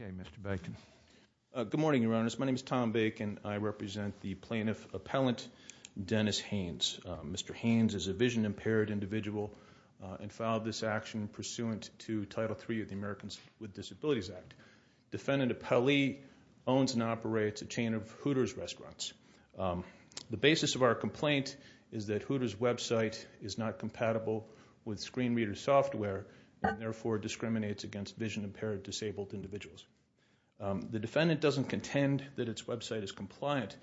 Okay, Mr. Bacon. Good morning, Your Honors. My name is Tom Bacon. I represent the Plaintiff Appellant Dennis Haynes. Mr. Haynes is a vision-impaired individual and filed this action pursuant to Title III of the Americans with Disabilities Act. Defendant Appellee owns and operates a chain of Hooters restaurants. The basis of our complaint is that Hooters website is not compatible with screen reader software and therefore discriminates against vision-impaired disabled individuals. The defendant doesn't contend that its website is compliant.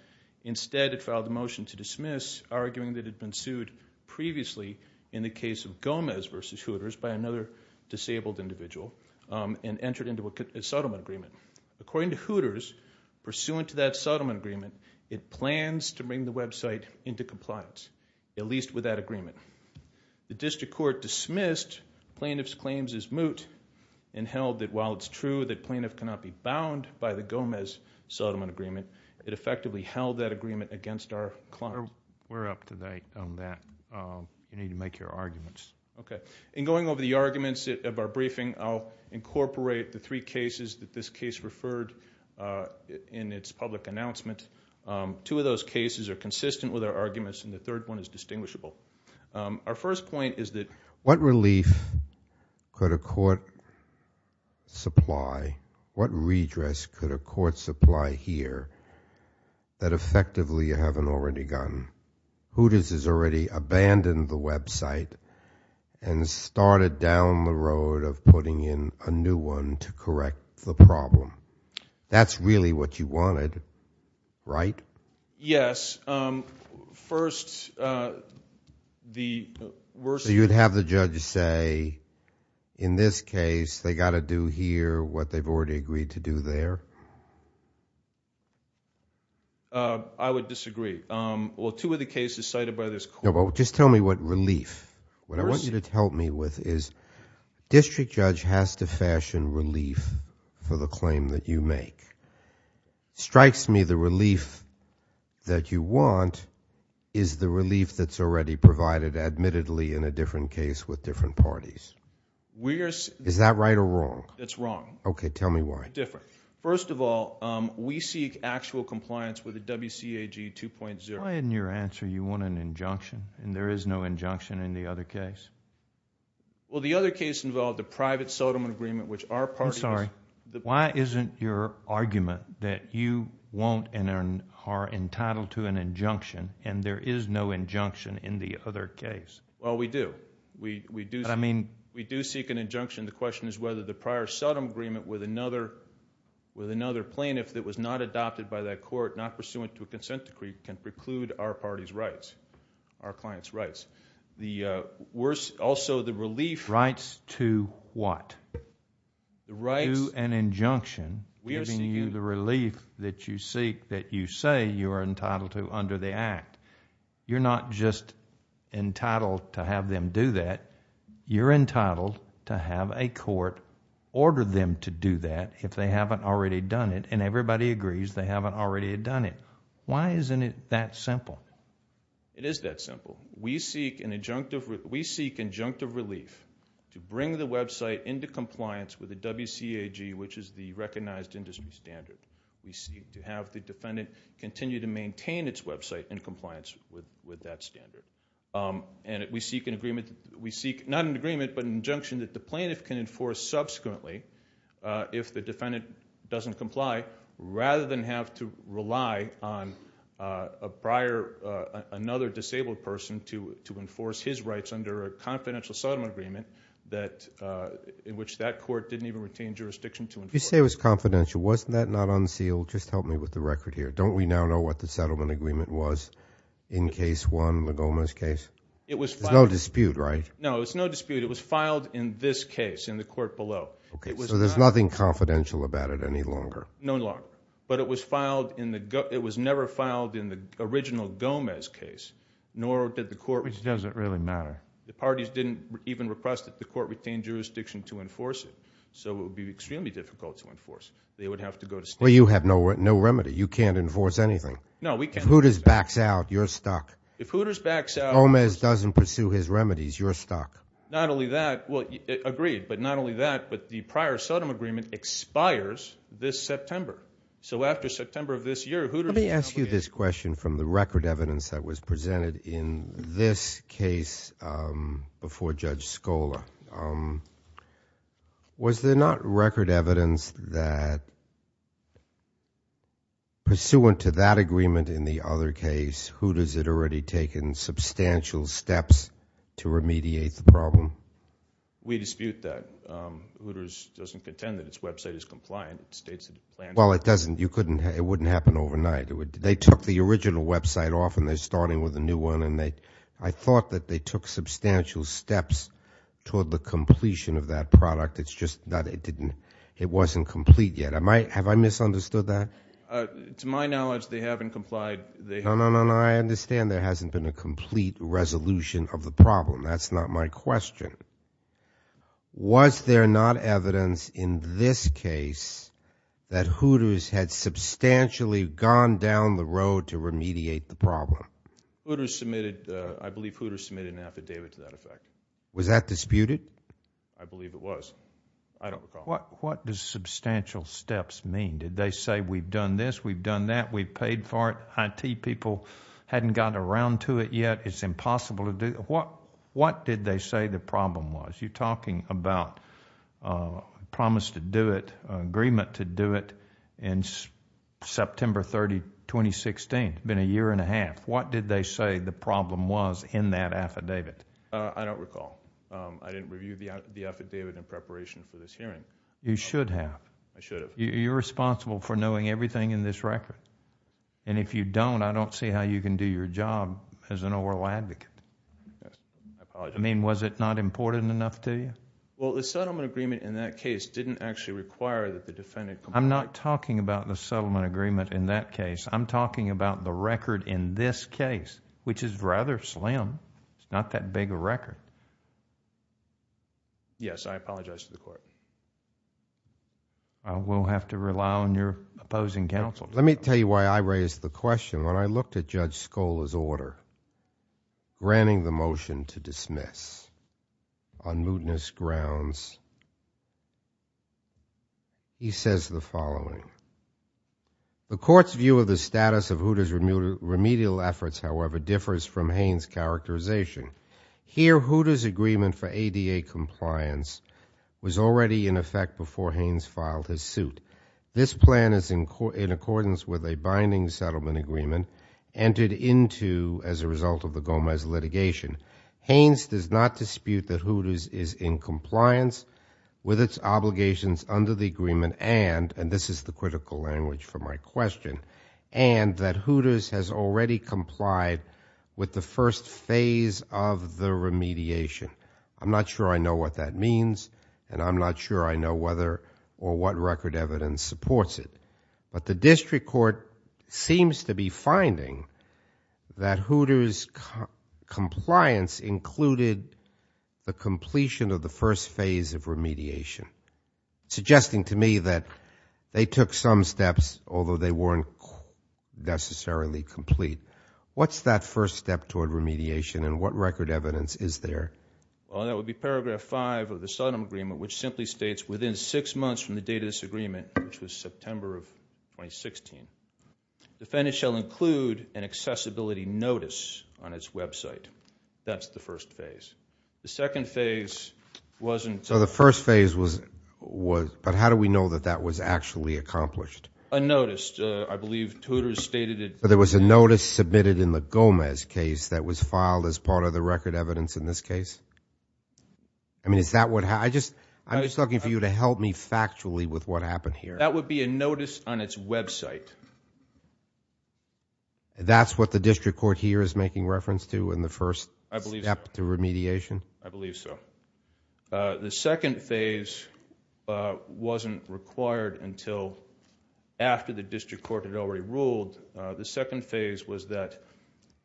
Instead, it filed a motion to dismiss, arguing that it had been sued previously in the case of Gomez v. Hooters by another disabled individual and entered into a settlement agreement. According to Hooters, pursuant to that settlement agreement, it plans to bring the website into compliance, at least with that agreement. The district court dismissed plaintiff's claims as moot and held that while it's true that plaintiff cannot be bound by the Gomez settlement agreement, it effectively held that agreement against our client. We're up to date on that. You need to make your arguments. In going over the arguments of our briefing, I'll incorporate the three cases that this case referred in its public announcement. Two of those cases are consistent with our arguments and the third one is distinguishable. Our first point is that what relief could a court supply, what redress could a court supply here that effectively you haven't already gotten? Hooters has already abandoned the website and started down the road of putting in a new one to correct the problem. That's really what you wanted, right? Yes. First, the worst... So you'd have the judge say, in this case, they got to do here what they've already agreed to do there? I would disagree. Well, two of the cases cited by this court... No, but just tell me what relief. What I want you to help me with is district judge has to fashion relief for the claim that you make. Strikes me the relief that you want is the relief that's already provided admittedly in a different case with different parties. Is that right or wrong? It's wrong. Okay, tell me why. Different. First of all, we seek actual compliance with the WCAG 2.0. Why in your answer you want an injunction and there is no injunction in the other case? Well, the other case involved a private sodom agreement which our party... I'm sorry. Why isn't your argument that you want and are entitled to an injunction and there is no injunction in the other case? Well, we do. We do seek an injunction. The question is whether the prior sodom agreement with another plaintiff that was not adopted by that court, not pursuant to a consent decree, can preclude our party's rights, our client's rights. Also, the relief... Rights to what? The rights... Do an injunction giving you the relief that you seek that you say you are entitled to under the act. You're not just entitled to have them do that. You're entitled to have a court order them to do that if they haven't already done it and everybody agrees they haven't already done it. Why isn't it that simple? It is that simple. We seek injunctive relief to bring the website into compliance with the WCAG which is the recognized industry standard. We seek to have the defendant continue to maintain its website in compliance with that standard. We seek an agreement... We seek not an agreement but an injunction that the plaintiff can enforce subsequently if the defendant doesn't comply rather than have to rely on a prior, another disabled person to enforce his rights under a confidential settlement agreement in which that court didn't even retain jurisdiction to enforce. You say it was confidential. Wasn't that not unsealed? Just help me with the record here. Don't we now know what the settlement agreement was in case one, Legoma's case? It was filed... There's no dispute, right? No, there's no dispute. It was filed in this case in the court below. Okay, so there's nothing confidential about it any longer? No longer. But it was never filed in the original Gomez case, nor did the court... Which doesn't really matter. The parties didn't even request that the court retain jurisdiction to enforce it. So it would be extremely difficult to enforce. They would have to go to state... Well, you have no remedy. You can't enforce anything. No, we can't... If Hooters backs out, you're stuck. If Hooters backs out... His remedy is you're stuck. Not only that... Well, agreed. But not only that, but the prior Sodom agreement expires this September. So after September of this year, Hooters... Let me ask you this question from the record evidence that was presented in this case before Judge Scola. Was there not record evidence that pursuant to that agreement in the other case, Hooters had already taken substantial steps to remediate the problem? We dispute that. Hooters doesn't contend that its website is compliant. It states that it planned... Well, it doesn't. It wouldn't happen overnight. They took the original website off and they're starting with a new one. And I thought that they took substantial steps toward the completion of that product. It's just that it wasn't complete yet. Have I misunderstood that? To my knowledge, they haven't complied. No, no, no. I understand there hasn't been a complete resolution of the problem. That's not my question. Was there not evidence in this case that Hooters had substantially gone down the road to remediate the problem? Hooters submitted... I believe Hooters submitted an affidavit to that effect. Was that disputed? I believe it was. I don't recall. What does substantial steps mean? Did they say, we've done this, we've done that, we've paid for it, IT people hadn't gotten around to it yet, it's impossible to do... What did they say the problem was? You're talking about a promise to do it, an agreement to do it in September 30, 2016. It's been a year and a half. What did they say the problem was in that affidavit? I don't recall. I didn't review the affidavit in preparation for this hearing. You should have. I should have. You're responsible for knowing everything in this record. If you don't, I don't see how you can do your job as an oral advocate. I apologize. I mean, was it not important enough to you? Well, the settlement agreement in that case didn't actually require that the defendant comply. I'm not talking about the settlement agreement in that case. I'm talking about the record in this case, which is rather slim. It's not that big a record. Yes, I apologize to the court. I will have to rely on your opposing counsel. Let me tell you why I raised the question. When I looked at Judge Scola's order, granting the motion to dismiss on mootness grounds, he says the following, the court's view of the status of Hooter's remedial efforts, however, differs from Haines' characterization. Here Hooter's agreement for ADA compliance was already in effect before Haines filed his suit. This plan is in accordance with a binding settlement agreement entered into as a result of the Gomez litigation. Haines does not dispute that Hooter's is in compliance with its obligations under the question and that Hooter's has already complied with the first phase of the remediation. I'm not sure I know what that means and I'm not sure I know whether or what record evidence supports it, but the district court seems to be finding that Hooter's compliance included the completion of the first phase of remediation, suggesting to me that they took some steps, although they weren't necessarily complete. What's that first step toward remediation and what record evidence is there? Well, that would be paragraph five of the settlement agreement, which simply states, within six months from the date of this agreement, which was September of 2016, the defendant shall include an accessibility notice on its website. That's the first phase. The second phase wasn't... So the first phase was... but how do we know that that was actually accomplished? A notice. I believe Hooter's stated it... But there was a notice submitted in the Gomez case that was filed as part of the record evidence in this case? I mean, is that what... I'm just looking for you to help me factually with what happened here. That would be a notice on its website. That's what the district court here is making reference to in the first step to remediation? I believe so. The second phase wasn't required until after the district court had already ruled. The second phase was that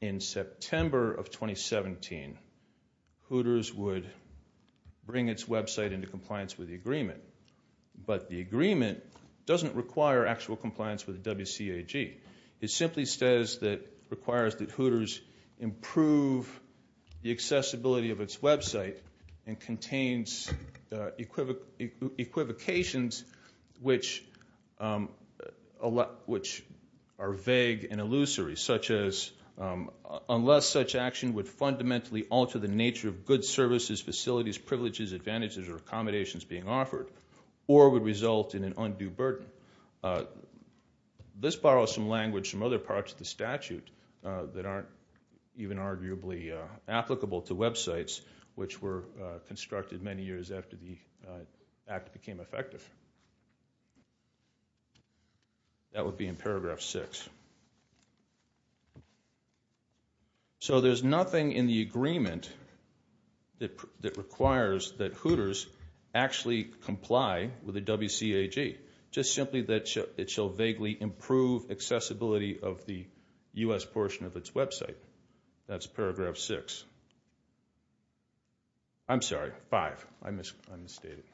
in September of 2017, Hooter's would bring its website into compliance with the agreement. But the agreement doesn't require actual compliance with WCAG. It simply says that it requires that Hooter's improve the accessibility of its website and contains equivocations which are vague and illusory, such as unless such action would fundamentally alter the nature of good services, facilities, privileges, advantages, or accommodations being offered, or would result in an undue burden. This borrows some language from other parts of the statute that aren't even arguably applicable to websites which were constructed many years after the act became effective. That would be in paragraph six. So there's nothing in the agreement that requires that Hooter's actually comply with the WCAG. Just simply that it shall vaguely improve accessibility of the U.S. portion of its website. That's paragraph six. I'm sorry, five. I misunderstood it.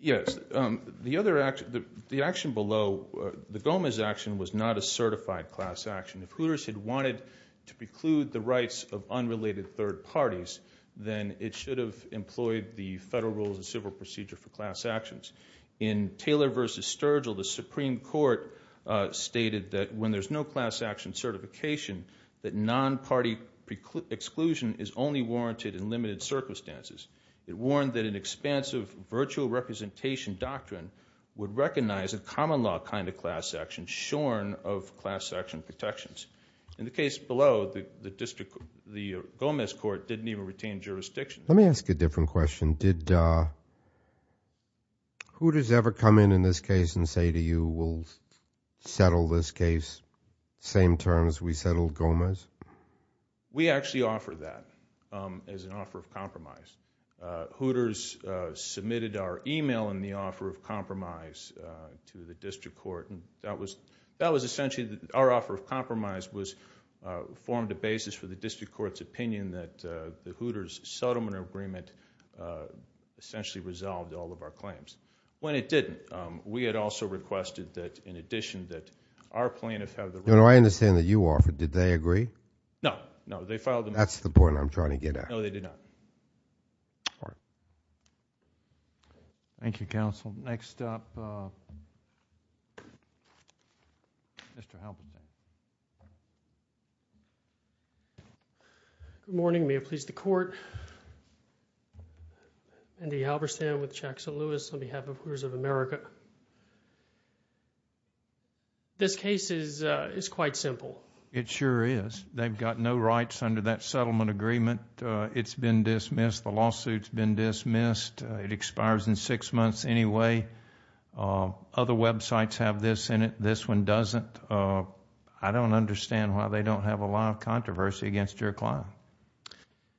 Yes, the action below, the Gomez action, was not a certified class action. If Hooter's had wanted to preclude the rights of unrelated third parties, then it should have employed the federal rules of civil procedure for class actions. In Taylor v. Sturgill, the Supreme Court stated that when there's no class action certification, that non-party exclusion is only warranted in limited circumstances. It warned that an expansive virtual representation doctrine would recognize a common law kind of shorn of class action protections. In the case below, the Gomez court didn't even retain jurisdiction. Let me ask a different question. Hooter's ever come in in this case and say to you, we'll settle this case, same terms, we settle Gomez? Hooter's submitted our email in the offer of compromise to the district court. And that was essentially, our offer of compromise formed a basis for the district court's opinion that the Hooter's settlement agreement essentially resolved all of our claims. When it didn't, we had also requested that, in addition, that our plaintiff have the- No, no, I understand that you offered. Did they agree? No, no, they filed the- That's the point I'm trying to get at. No, they did not. All right. Thank you, counsel. Next up, Mr. Halberstadt. Good morning. May it please the court. Andy Halberstadt with Jackson Lewis on behalf of Hooters of America. This case is quite simple. It sure is. They've got no rights under that settlement agreement. It's been dismissed. The lawsuit's been dismissed. It expires in six months anyway. Other websites have this in it. This one doesn't. I don't understand why they don't have a lot of controversy against your client.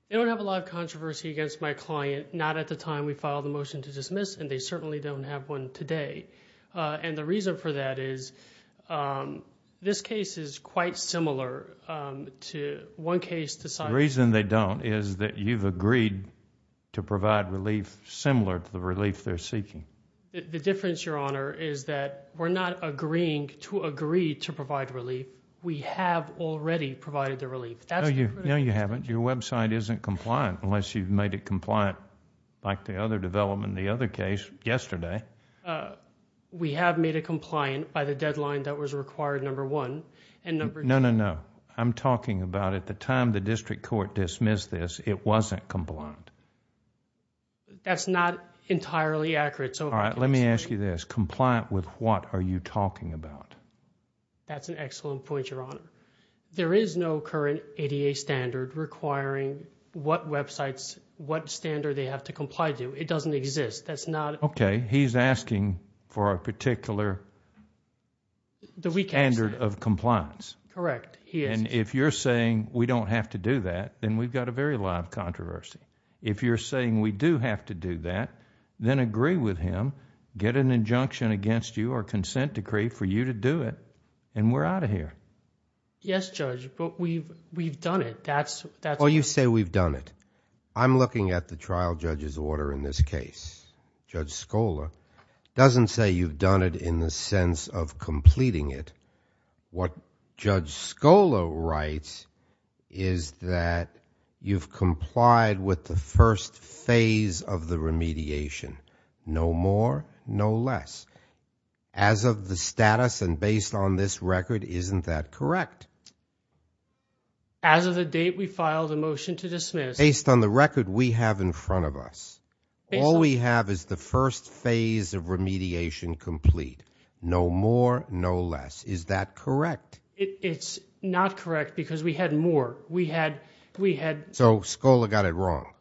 They don't have a lot of controversy against my client, not at the time we filed the motion to dismiss, and they certainly don't have one today. And the reason for that is, this case is quite similar to one case- The reason they don't is that you've agreed to provide relief similar to the relief they're seeking. The difference, your honor, is that we're not agreeing to agree to provide relief. We have already provided the relief. No, you haven't. Your website isn't compliant unless you've made it compliant like the other development, the other case yesterday. We have made it compliant by the deadline that was required, number one, and number- No, no, no. I'm talking about at the time the district court dismissed this, it wasn't compliant. That's not entirely accurate, so- All right, let me ask you this. Compliant with what are you talking about? That's an excellent point, your honor. There is no current ADA standard requiring what websites, what standard they have to comply to. It doesn't exist. That's not- Okay, he's asking for a particular standard of compliance. Correct. If you're saying we don't have to do that, then we've got a very live controversy. If you're saying we do have to do that, then agree with him, get an injunction against you or consent decree for you to do it, and we're out of here. Yes, Judge, but we've done it. That's- Oh, you say we've done it. I'm looking at the trial judge's order in this case. Judge Scola doesn't say you've done it in the sense of completing it. What Judge Scola writes is that you've complied with the first phase of the remediation. No more, no less. As of the status and based on this record, isn't that correct? As of the date we filed a motion to dismiss- Based on the record we have in front of us. All we have is the first phase of remediation complete. No more, no less. Is that correct? It's not correct because we had more. We had- So Scola got it wrong?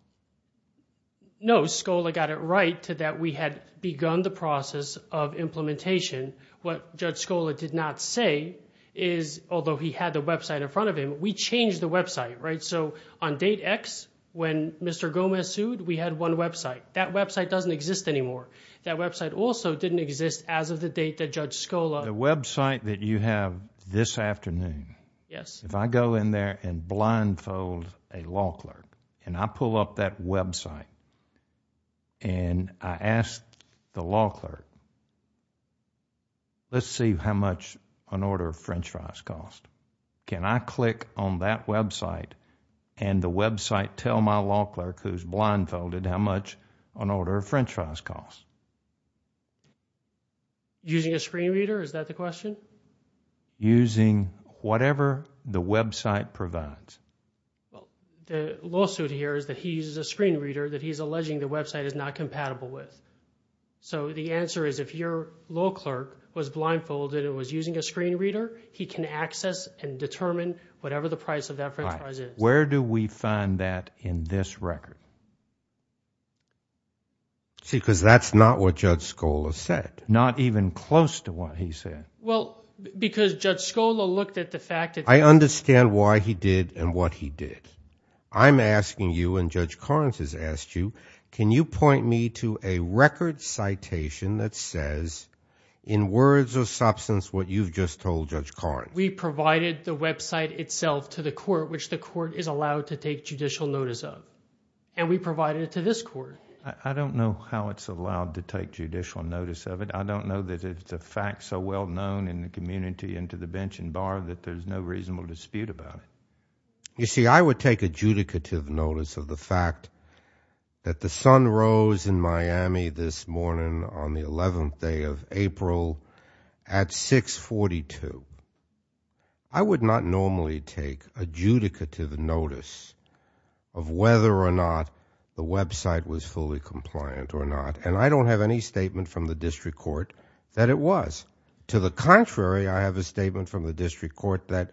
No, Scola got it right to that we had begun the process of implementation. What Judge Scola did not say is, although he had the website in front of him, we changed the website, right? So on date X, when Mr. Gomez sued, we had one website. That website doesn't exist anymore. That website also didn't exist as of the date that Judge Scola- The website that you have this afternoon, if I go in there and blindfold a law clerk and I pull up that website and I ask the law clerk, let's see how much an order of french fries cost. Can I click on that website and the website tell my law clerk who's blindfolded how much an order of french fries costs? Using a screen reader, is that the question? Using whatever the website provides. The lawsuit here is that he uses a screen reader that he's alleging the website is not compatible with. So the answer is if your law clerk was blindfolded and was using a screen reader, he can access and determine whatever the price of that french fries is. Where do we find that in this record? See, because that's not what Judge Scola said. Not even close to what he said. Well, because Judge Scola looked at the fact that- I understand why he did and what he did. I'm asking you and Judge Karnes has asked you, can you point me to a record citation that says in words or substance what you've just told Judge Karnes? We provided the website itself to the court, which the court is allowed to take judicial notice of. And we provided it to this court. I don't know how it's allowed to take judicial notice of it. I don't know that it's a fact so well known in the community and to the bench and bar that there's no reasonable dispute about it. You see, I would take adjudicative notice of the fact that the sun rose in Miami this morning on the 11th day of April at 642. I would not normally take adjudicative notice of whether or not the website was fully compliant or not. And I don't have any statement from the district court that it was. To the contrary, I have a statement from the district court that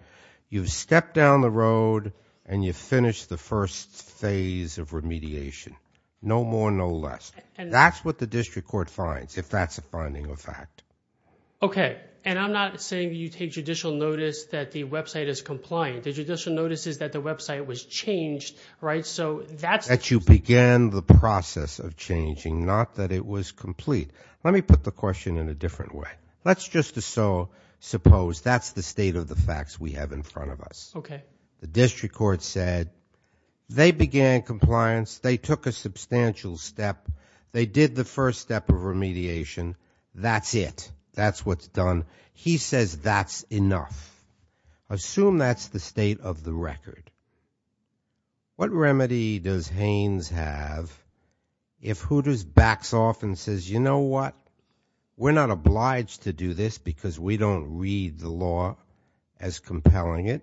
you've stepped down the road and you finished the first phase of remediation. No more, no less. That's what the district court finds if that's a finding of fact. OK, and I'm not saying you take judicial notice that the website is compliant. The judicial notice is that the website was changed, right? So that's that you began the process of changing, not that it was complete. Let me put the question in a different way. Let's just so suppose that's the state of the facts we have in front of us. OK, the district court said they began compliance. They took a substantial step. They did the first step of remediation. That's it. That's what's done. He says that's enough. Assume that's the state of the record. What remedy does Haynes have if Hooters backs off and says, you know what? We're not obliged to do this because we don't read the law as compelling it.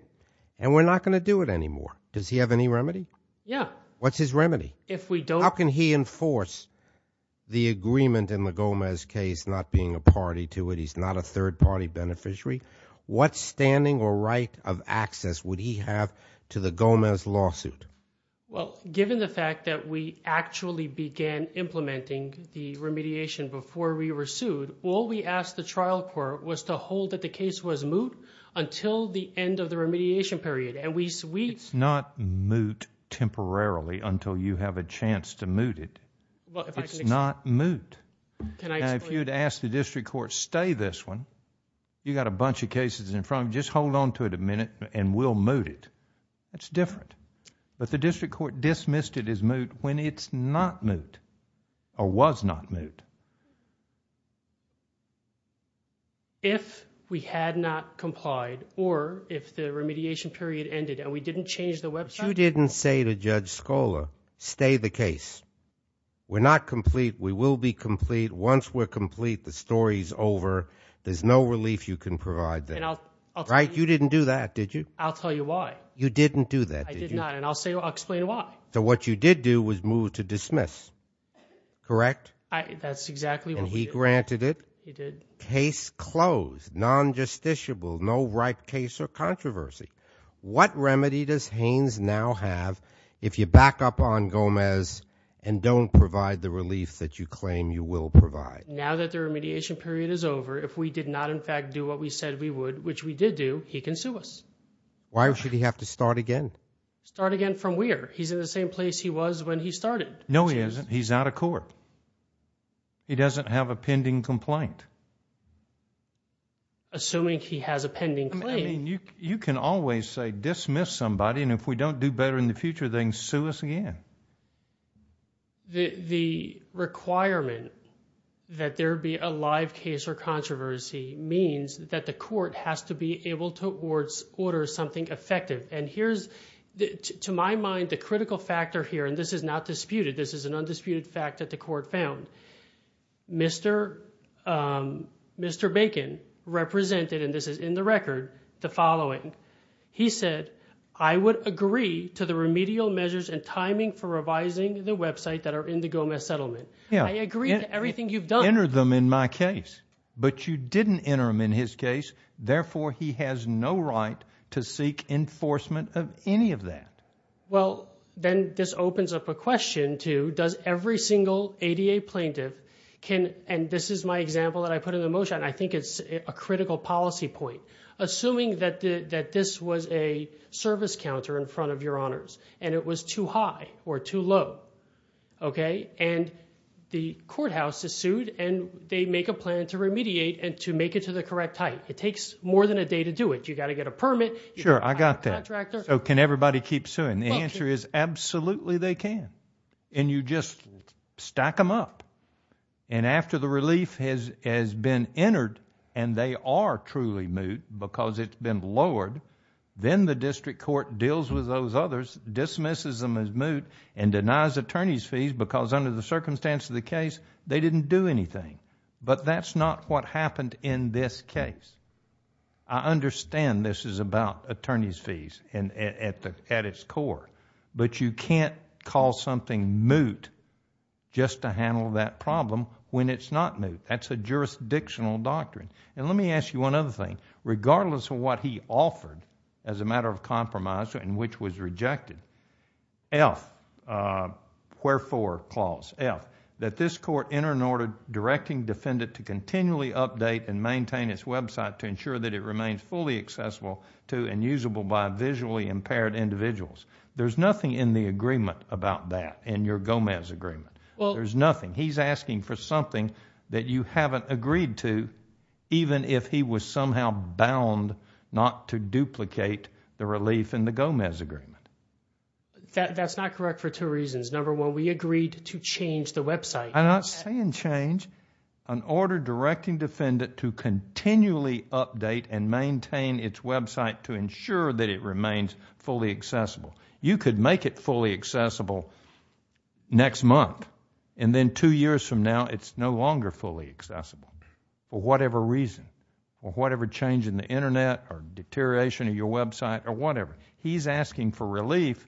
And we're not going to do it anymore. Does he have any remedy? Yeah. What's his remedy? If we don't. How can he enforce the agreement in the Gomez case, not being a party to it? He's not a third party beneficiary. What standing or right of access would he have to the Gomez lawsuit? Well, given the fact that we actually began implementing the remediation before we were sued, all we asked the trial court was to hold that the case was moot until the end of the remediation period. It's not moot temporarily until you have a chance to moot it. It's not moot. If you'd ask the district court, stay this one. You got a bunch of cases in front of you. Just hold on to it a minute and we'll moot it. That's different. But the district court dismissed it as moot when it's not moot or was not moot. If we had not complied or if the remediation period ended and we didn't change the website. But you didn't say to Judge Scola, stay the case. We're not complete. We will be complete. Once we're complete, the story's over. There's no relief you can provide there. Right? You didn't do that, did you? I'll tell you why. You didn't do that, did you? I did not. And I'll explain why. So what you did do was move to dismiss, correct? That's exactly what we did. And he granted it? He did. Case closed. Non-justiciable. No right case or controversy. What remedy does Haynes now have if you back up on Gomez and don't provide the relief that you claim you will provide? Now that the remediation period is over, if we did not in fact do what we said we would, which we did do, he can sue us. Why should he have to start again? Start again from where? He's in the same place he was when he started. No, he isn't. He's out of court. He doesn't have a pending complaint. Assuming he has a pending claim. I mean, you can always say dismiss somebody, and if we don't do better in the future, then sue us again. The requirement that there be a live case or controversy means that the court has to be able to order something effective. And here's, to my mind, the critical factor here, and this is not disputed, this is an Mr. Bacon represented, and this is in the record, the following. He said, I would agree to the remedial measures and timing for revising the website that are in the Gomez settlement. I agree to everything you've done. Enter them in my case. But you didn't enter them in his case. Therefore, he has no right to seek enforcement of any of that. Well, then this opens up a question to, does every single ADA plaintiff can, and this is my example that I put in the motion, I think it's a critical policy point. Assuming that this was a service counter in front of your honors, and it was too high or too low. Okay. And the courthouse is sued, and they make a plan to remediate and to make it to the correct height. It takes more than a day to do it. You got to get a permit. Sure, I got that. So can everybody keep suing? The answer is absolutely they can. And you just stack them up. And after the relief has been entered, and they are truly moot because it's been lowered, then the district court deals with those others, dismisses them as moot, and denies attorneys fees because under the circumstance of the case, they didn't do anything. But that's not what happened in this case. I understand this is about attorneys fees at its core, but you can't call something moot just to handle that problem when it's not moot. That's a jurisdictional doctrine. And let me ask you one other thing. Regardless of what he offered as a matter of compromise and which was rejected, F, wherefore clause, F, that this court enter an order directing defendant to continually update and maintain its website to ensure that it remains fully accessible to and usable by visually impaired individuals. There's nothing in the agreement about that, in your Gomez agreement. There's nothing. He's asking for something that you haven't agreed to, even if he was somehow bound not to duplicate the relief in the Gomez agreement. That's not correct for two reasons. Number one, we agreed to change the website. I'm not saying change, an order directing defendant to continually update and maintain its website to ensure that it remains fully accessible. You could make it fully accessible next month and then two years from now, it's no longer fully accessible for whatever reason or whatever change in the internet or deterioration of your website or whatever. He's asking for relief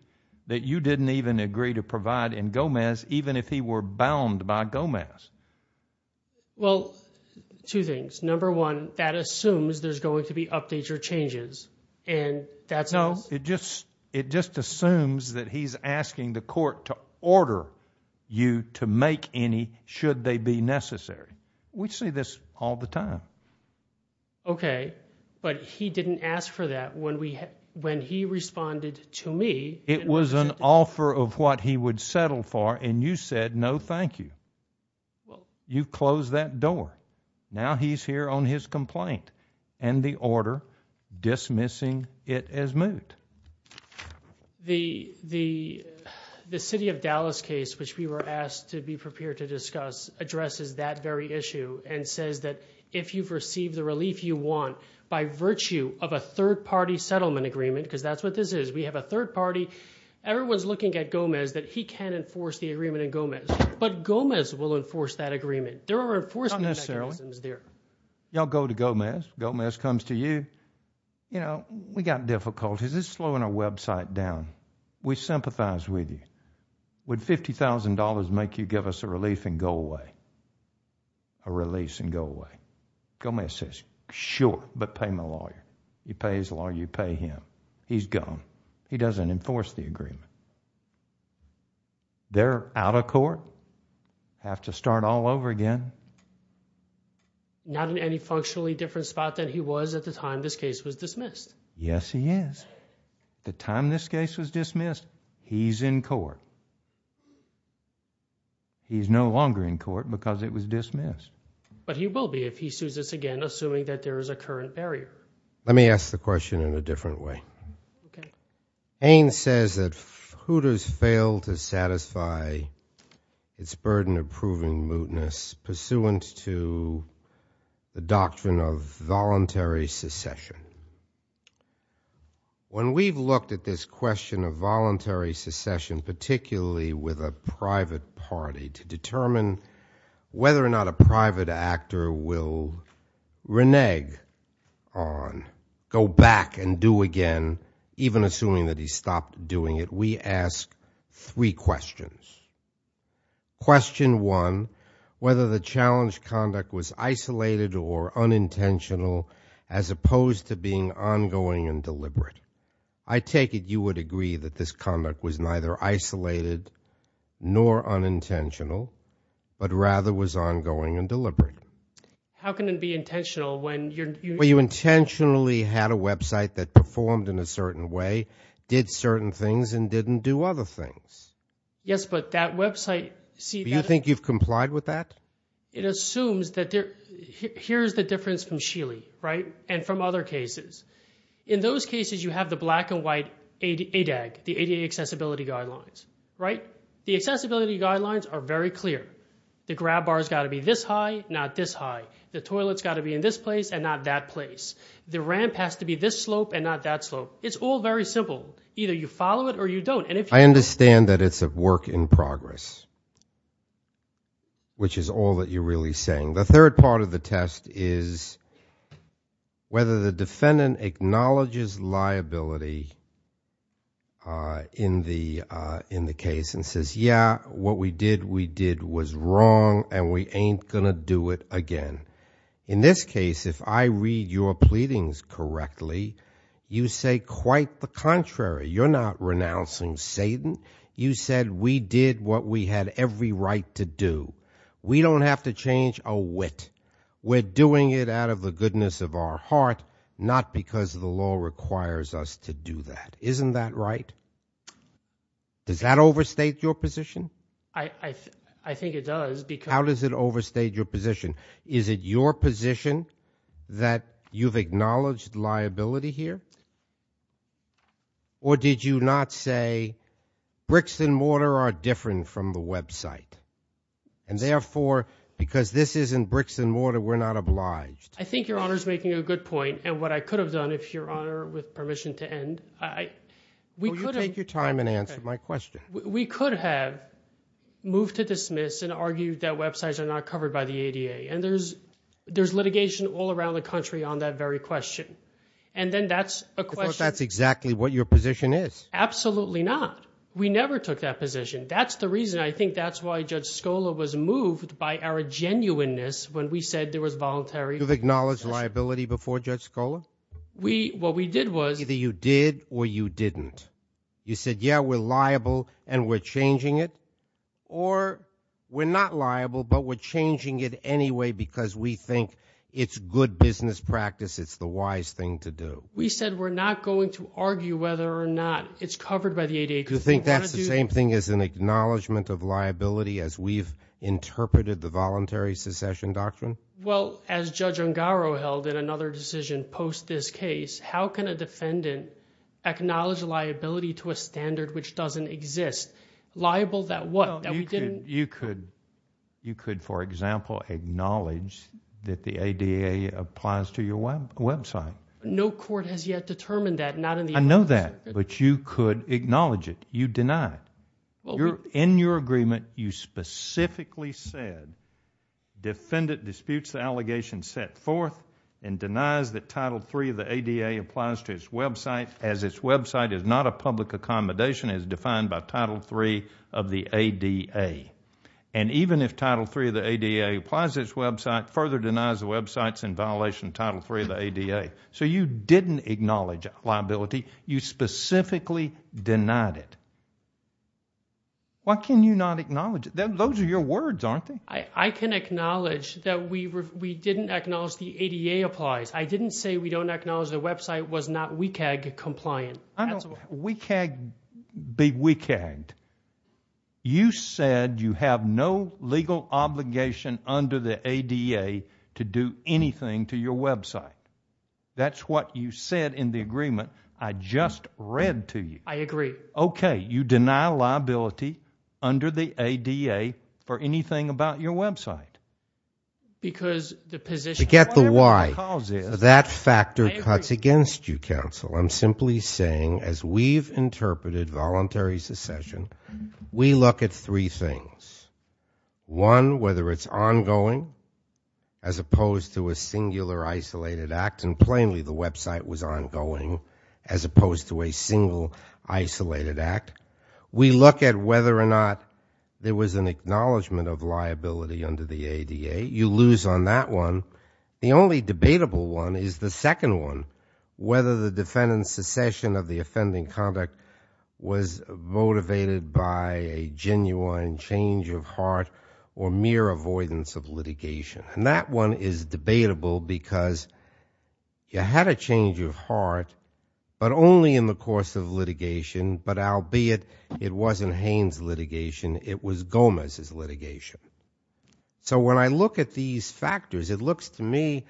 that you didn't even agree to provide in Gomez, even if he were bound by Gomez. Well, two things. Number one, that assumes there's going to be updates or changes and that's- No, it just assumes that he's asking the court to order you to make any, should they be necessary. We see this all the time. Okay, but he didn't ask for that when he responded to me. It was an offer of what he would settle for and you said, no, thank you. You closed that door. Now he's here on his complaint and the order dismissing it as moot. The City of Dallas case, which we were asked to be prepared to discuss, addresses that very issue and says that if you've received the relief you want by virtue of a third party settlement agreement, because that's what this is. We have a third party. Everyone's looking at Gomez that he can enforce the agreement in Gomez, but Gomez will enforce that agreement. There are enforcement mechanisms there. Not necessarily. You all go to Gomez. Gomez comes to you. We got difficulties. It's slowing our website down. We sympathize with you. Would $50,000 make you give us a relief and go away, a release and go away? Gomez says, sure, but pay my lawyer. You pay his lawyer, you pay him. He's gone. He doesn't enforce the agreement. They're out of court, have to start all over again. Not in any functionally different spot than he was at the time this case was dismissed. Yes, he is. The time this case was dismissed, he's in court. He's no longer in court because it was dismissed. But he will be if he sues us again, assuming that there is a current barrier. Let me ask the question in a different way. Haines says that Hooters failed to satisfy its burden of proving mootness pursuant to the doctrine of voluntary secession. When we've looked at this question of voluntary secession, particularly with a private party, to determine whether or not a private actor will renege on, go back and do again, even assuming that he stopped doing it, we ask three questions. Question one, whether the challenge conduct was isolated or unintentional, as opposed to being ongoing and deliberate. I take it you would agree that this conduct was neither isolated nor unintentional, but rather was ongoing and deliberate. How can it be intentional when you're... Sheely had a website that performed in a certain way, did certain things, and didn't do other things? Yes, but that website... Do you think you've complied with that? It assumes that... Here's the difference from Sheely, right? And from other cases. In those cases, you have the black and white ADAG, the ADA Accessibility Guidelines, right? The Accessibility Guidelines are very clear. The grab bar has got to be this high, not this high. The toilet's got to be in this place and not that place. The ramp has to be this slope and not that slope. It's all very simple. Either you follow it or you don't. And if you... I understand that it's a work in progress, which is all that you're really saying. The third part of the test is whether the defendant acknowledges liability in the case and says, yeah, what we did, we did was wrong and we ain't going to do it again. In this case, if I read your pleadings correctly, you say quite the contrary. You're not renouncing Satan. You said we did what we had every right to do. We don't have to change a wit. We're doing it out of the goodness of our heart, not because the law requires us to do that. Isn't that right? Does that overstate your position? I think it does because... How does it overstate your position? Is it your position that you've acknowledged liability here? Or did you not say bricks and mortar are different from the website? And therefore, because this isn't bricks and mortar, we're not obliged. I think Your Honor is making a good point. And what I could have done, if Your Honor, with permission to end, I... Will you take your time and answer my question? We could have moved to dismiss and argued that websites are not covered by the ADA. And there's litigation all around the country on that very question. And then that's a question... I thought that's exactly what your position is. Absolutely not. We never took that position. That's the reason. I think that's why Judge Scola was moved by our genuineness when we said there was voluntary... You've acknowledged liability before Judge Scola? What we did was... Either you did or you didn't. You said, yeah, we're liable and we're changing it. Or we're not liable, but we're changing it anyway, because we think it's good business practice. It's the wise thing to do. We said we're not going to argue whether or not it's covered by the ADA. Do you think that's the same thing as an acknowledgement of liability as we've interpreted the voluntary secession doctrine? Well, as Judge Ungaro held in another decision post this case, how can a defendant acknowledge liability to a standard which doesn't exist? Liable that what? That we didn't... You could, for example, acknowledge that the ADA applies to your website. No court has yet determined that, not in the... I know that, but you could acknowledge it. You deny it. In your agreement, you specifically said defendant disputes the allegation set forth and denies that Title III of the ADA applies to its website, as its website is not a public accommodation as defined by Title III of the ADA. And even if Title III of the ADA applies to its website, further denies the website's in violation of Title III of the ADA. So you didn't acknowledge liability. You specifically denied it. Why can you not acknowledge it? Those are your words, aren't they? I can acknowledge that we didn't acknowledge the ADA applies. I didn't say we don't acknowledge the website was not WCAG compliant. I don't WCAG be WCAG'd. You said you have no legal obligation under the ADA to do anything to your website. That's what you said in the agreement I just read to you. I agree. Okay. You deny liability under the ADA for anything about your website. Because the position... To get the why, that factor cuts against you, counsel. I'm simply saying as we've interpreted voluntary secession, we look at three things. One, whether it's ongoing as opposed to a singular isolated act, and plainly the website was ongoing as opposed to a single isolated act. We look at whether or not there was an acknowledgement of liability under the ADA. You lose on that one. The only debatable one is the second one, whether the defendant's secession of the offending conduct was motivated by a genuine change of heart or mere avoidance of litigation. That one is debatable because you had a change of heart, but only in the course of litigation, but albeit it wasn't Haines litigation, it was Gomez's litigation. When I look at these factors, it looks to me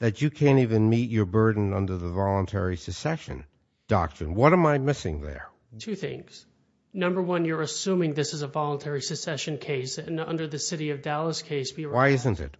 that you can't even meet your burden under the voluntary secession doctrine. What am I missing there? Two things. Number one, you're assuming this is a voluntary secession case, and under the city of Dallas case... Why isn't it?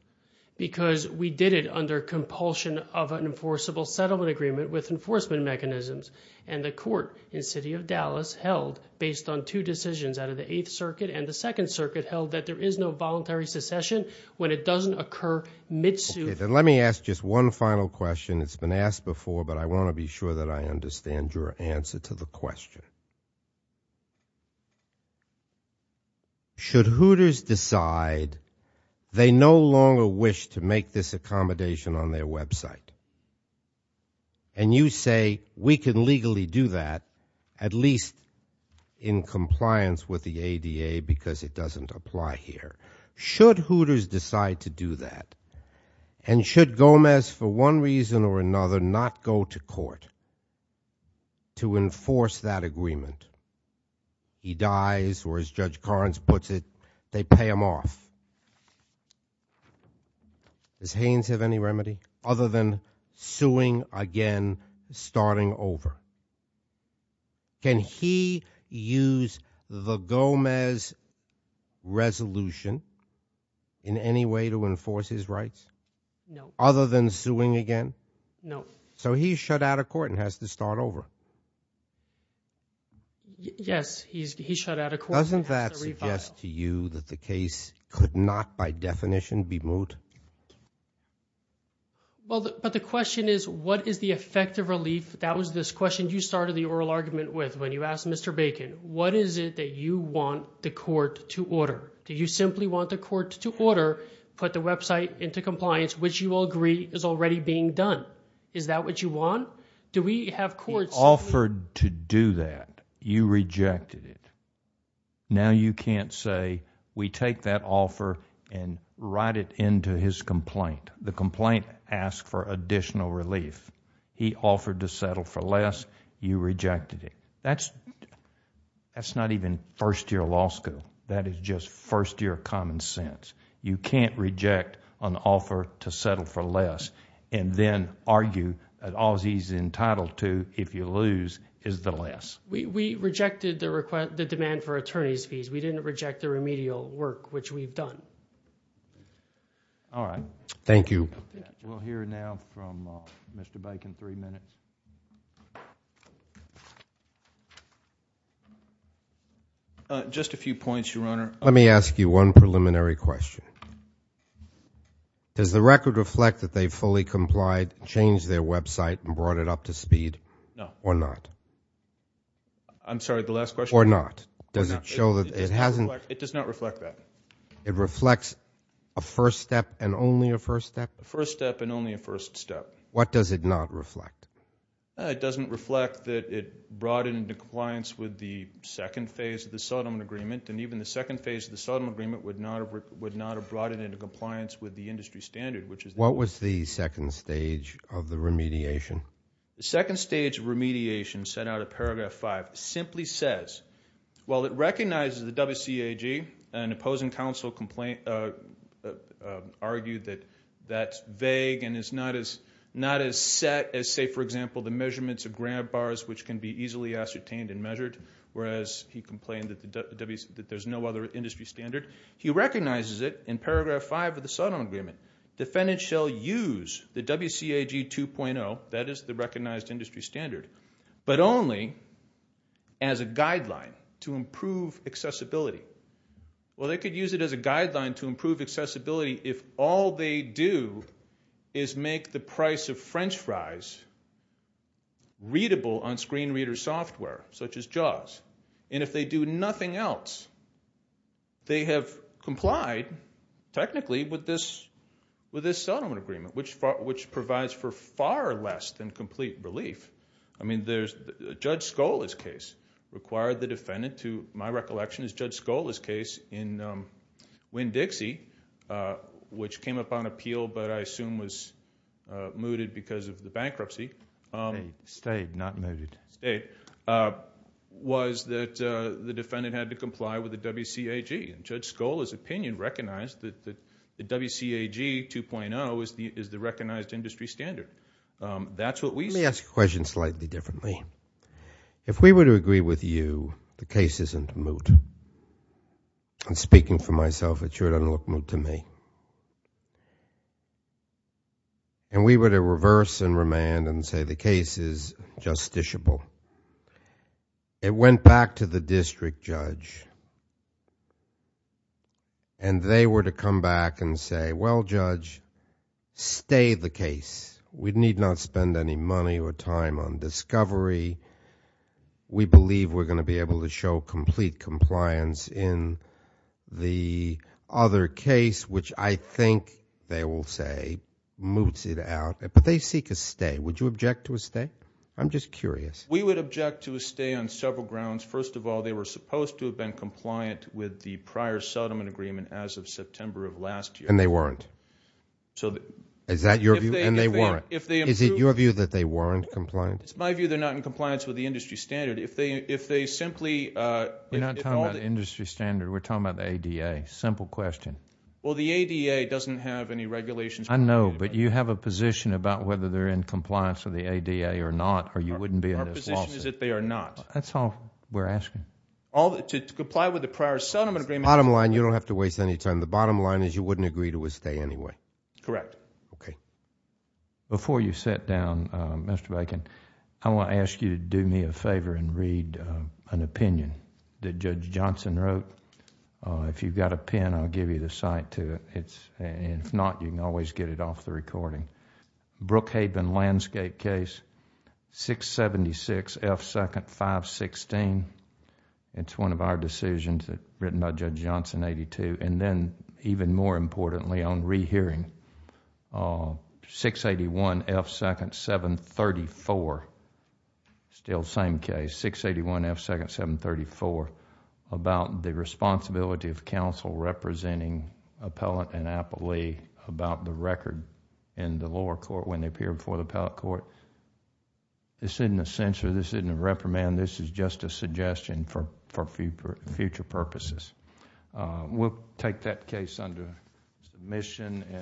Because we did it under compulsion of an enforceable settlement agreement with enforcement mechanisms. And the court in city of Dallas held, based on two decisions out of the Eighth Circuit and the Second Circuit, held that there is no voluntary secession when it doesn't occur mid-suit. Then let me ask just one final question. It's been asked before, but I want to be sure that I understand your answer to the question. Should Hooters decide they no longer wish to make this accommodation on their website? And you say, we can legally do that, at least in compliance with the ADA because it doesn't apply here. Should Hooters decide to do that? And should Gomez, for one reason or another, not go to court to enforce that agreement? He dies, or as Judge Karns puts it, they pay him off. Does Haynes have any remedy other than suing again, starting over? Can he use the Gomez resolution in any way to enforce his rights? No. Other than suing again? No. So he's shut out of court and has to start over. Yes, he's shut out of court and has to re-file. Doesn't that suggest to you that the case could not, by definition, be moot? Well, but the question is, what is the effective relief? That was this question you started the oral argument with when you asked Mr. Bacon. What is it that you want the court to order? Do you simply want the court to order, put the website into compliance, which you will agree is already being done? Is that what you want? Do we have courts... He offered to do that. You rejected it. Now you can't say, we take that offer and write it into his complaint. The complaint asks for additional relief. He offered to settle for less. You rejected it. That's not even first-year law school. That is just first-year common sense. You can't reject an offer to settle for less, and then argue that all he's entitled to, if you lose, is the less. We rejected the demand for attorney's fees. We didn't reject the remedial work, which we've done. All right. Thank you. We'll hear now from Mr. Bacon, three minutes. Just a few points, Your Honor. Let me ask you one preliminary question. Does the record reflect that they fully complied, changed their website, and brought it up to speed, or not? I'm sorry, the last question? Or not. Does it show that it hasn't... It does not reflect that. It reflects a first step and only a first step? A first step and only a first step. What does it not reflect? It doesn't reflect that it brought it into compliance with the second phase of the Sodom Agreement, and even the second phase of the Sodom Agreement would not have brought it into compliance with the industry standard, which is... What was the second stage of the remediation? The second stage of remediation, set out of paragraph five, simply says, while it recognizes the WCAG, an opposing counsel argued that that's vague and is not as set as, say, for example, the measurements of grant bars, which can be easily ascertained and measured, whereas he complained that there's no other industry standard, he recognizes it in paragraph five of the Sodom Agreement. Defendants shall use the WCAG 2.0, that is the recognized industry standard, but only as a guideline to improve accessibility. Well, they could use it as a guideline to improve accessibility if all they do is make the price of French fries readable on screen reader software, such as JAWS, and if they do nothing else, they have complied technically with this Sodom Agreement, which provides for far less than complete relief. I mean, Judge Scola's case required the defendant to... My recollection is Judge Scola's case in Winn-Dixie, which came up on appeal, but I assume was mooted because of the bankruptcy... It stayed, not mooted.... stayed, was that the defendant had to comply with the WCAG, and Judge Scola's opinion recognized that the WCAG 2.0 is the recognized industry standard. That's what we... Let me ask a question slightly differently. If we were to agree with you, the case isn't moot. I'm speaking for myself. It sure doesn't look moot to me. And we were to reverse and remand and say the case is justiciable. It went back to the district judge, and they were to come back and say, well, Judge, stay the case. We need not spend any money or time on discovery. We believe we're going to be able to show complete compliance in the other case, which I think, they will say, moots it out. But they seek a stay. Would you object to a stay? I'm just curious. We would object to a stay on several grounds. First of all, they were supposed to have been compliant with the prior settlement agreement as of September of last year. And they weren't. So... Is that your view? And they weren't. If they... Is it your view that they weren't compliant? It's my view they're not in compliance with the industry standard. If they simply... We're not talking about the industry standard. We're talking about the ADA. Simple question. Well, the ADA doesn't have any regulations... I know, but you have a position about whether they're in compliance with the ADA or not, or you wouldn't be in this lawsuit. Our position is that they are not. That's all we're asking. To comply with the prior settlement agreement... Bottom line, you don't have to waste any time. The bottom line is you wouldn't agree to a stay anyway. Correct. Okay. Before you sit down, Mr. Bacon, I want to ask you to do me a favor and read an opinion that Judge Johnson wrote. If you've got a pen, I'll give you the cite to it. If not, you can always get it off the recording. Brookhaven Landscape Case, 676 F. 2nd, 516. It's one of our decisions written by Judge Johnson, 82. And then even more importantly on rehearing, 681 F. 2nd, 734. It's still the same case. 681 F. 2nd, 734 about the responsibility of counsel representing appellant and appellee about the record in the lower court when they appear before the appellate court. This isn't a censure. This isn't a reprimand. This is just a suggestion for future purposes. We'll take that case under submission.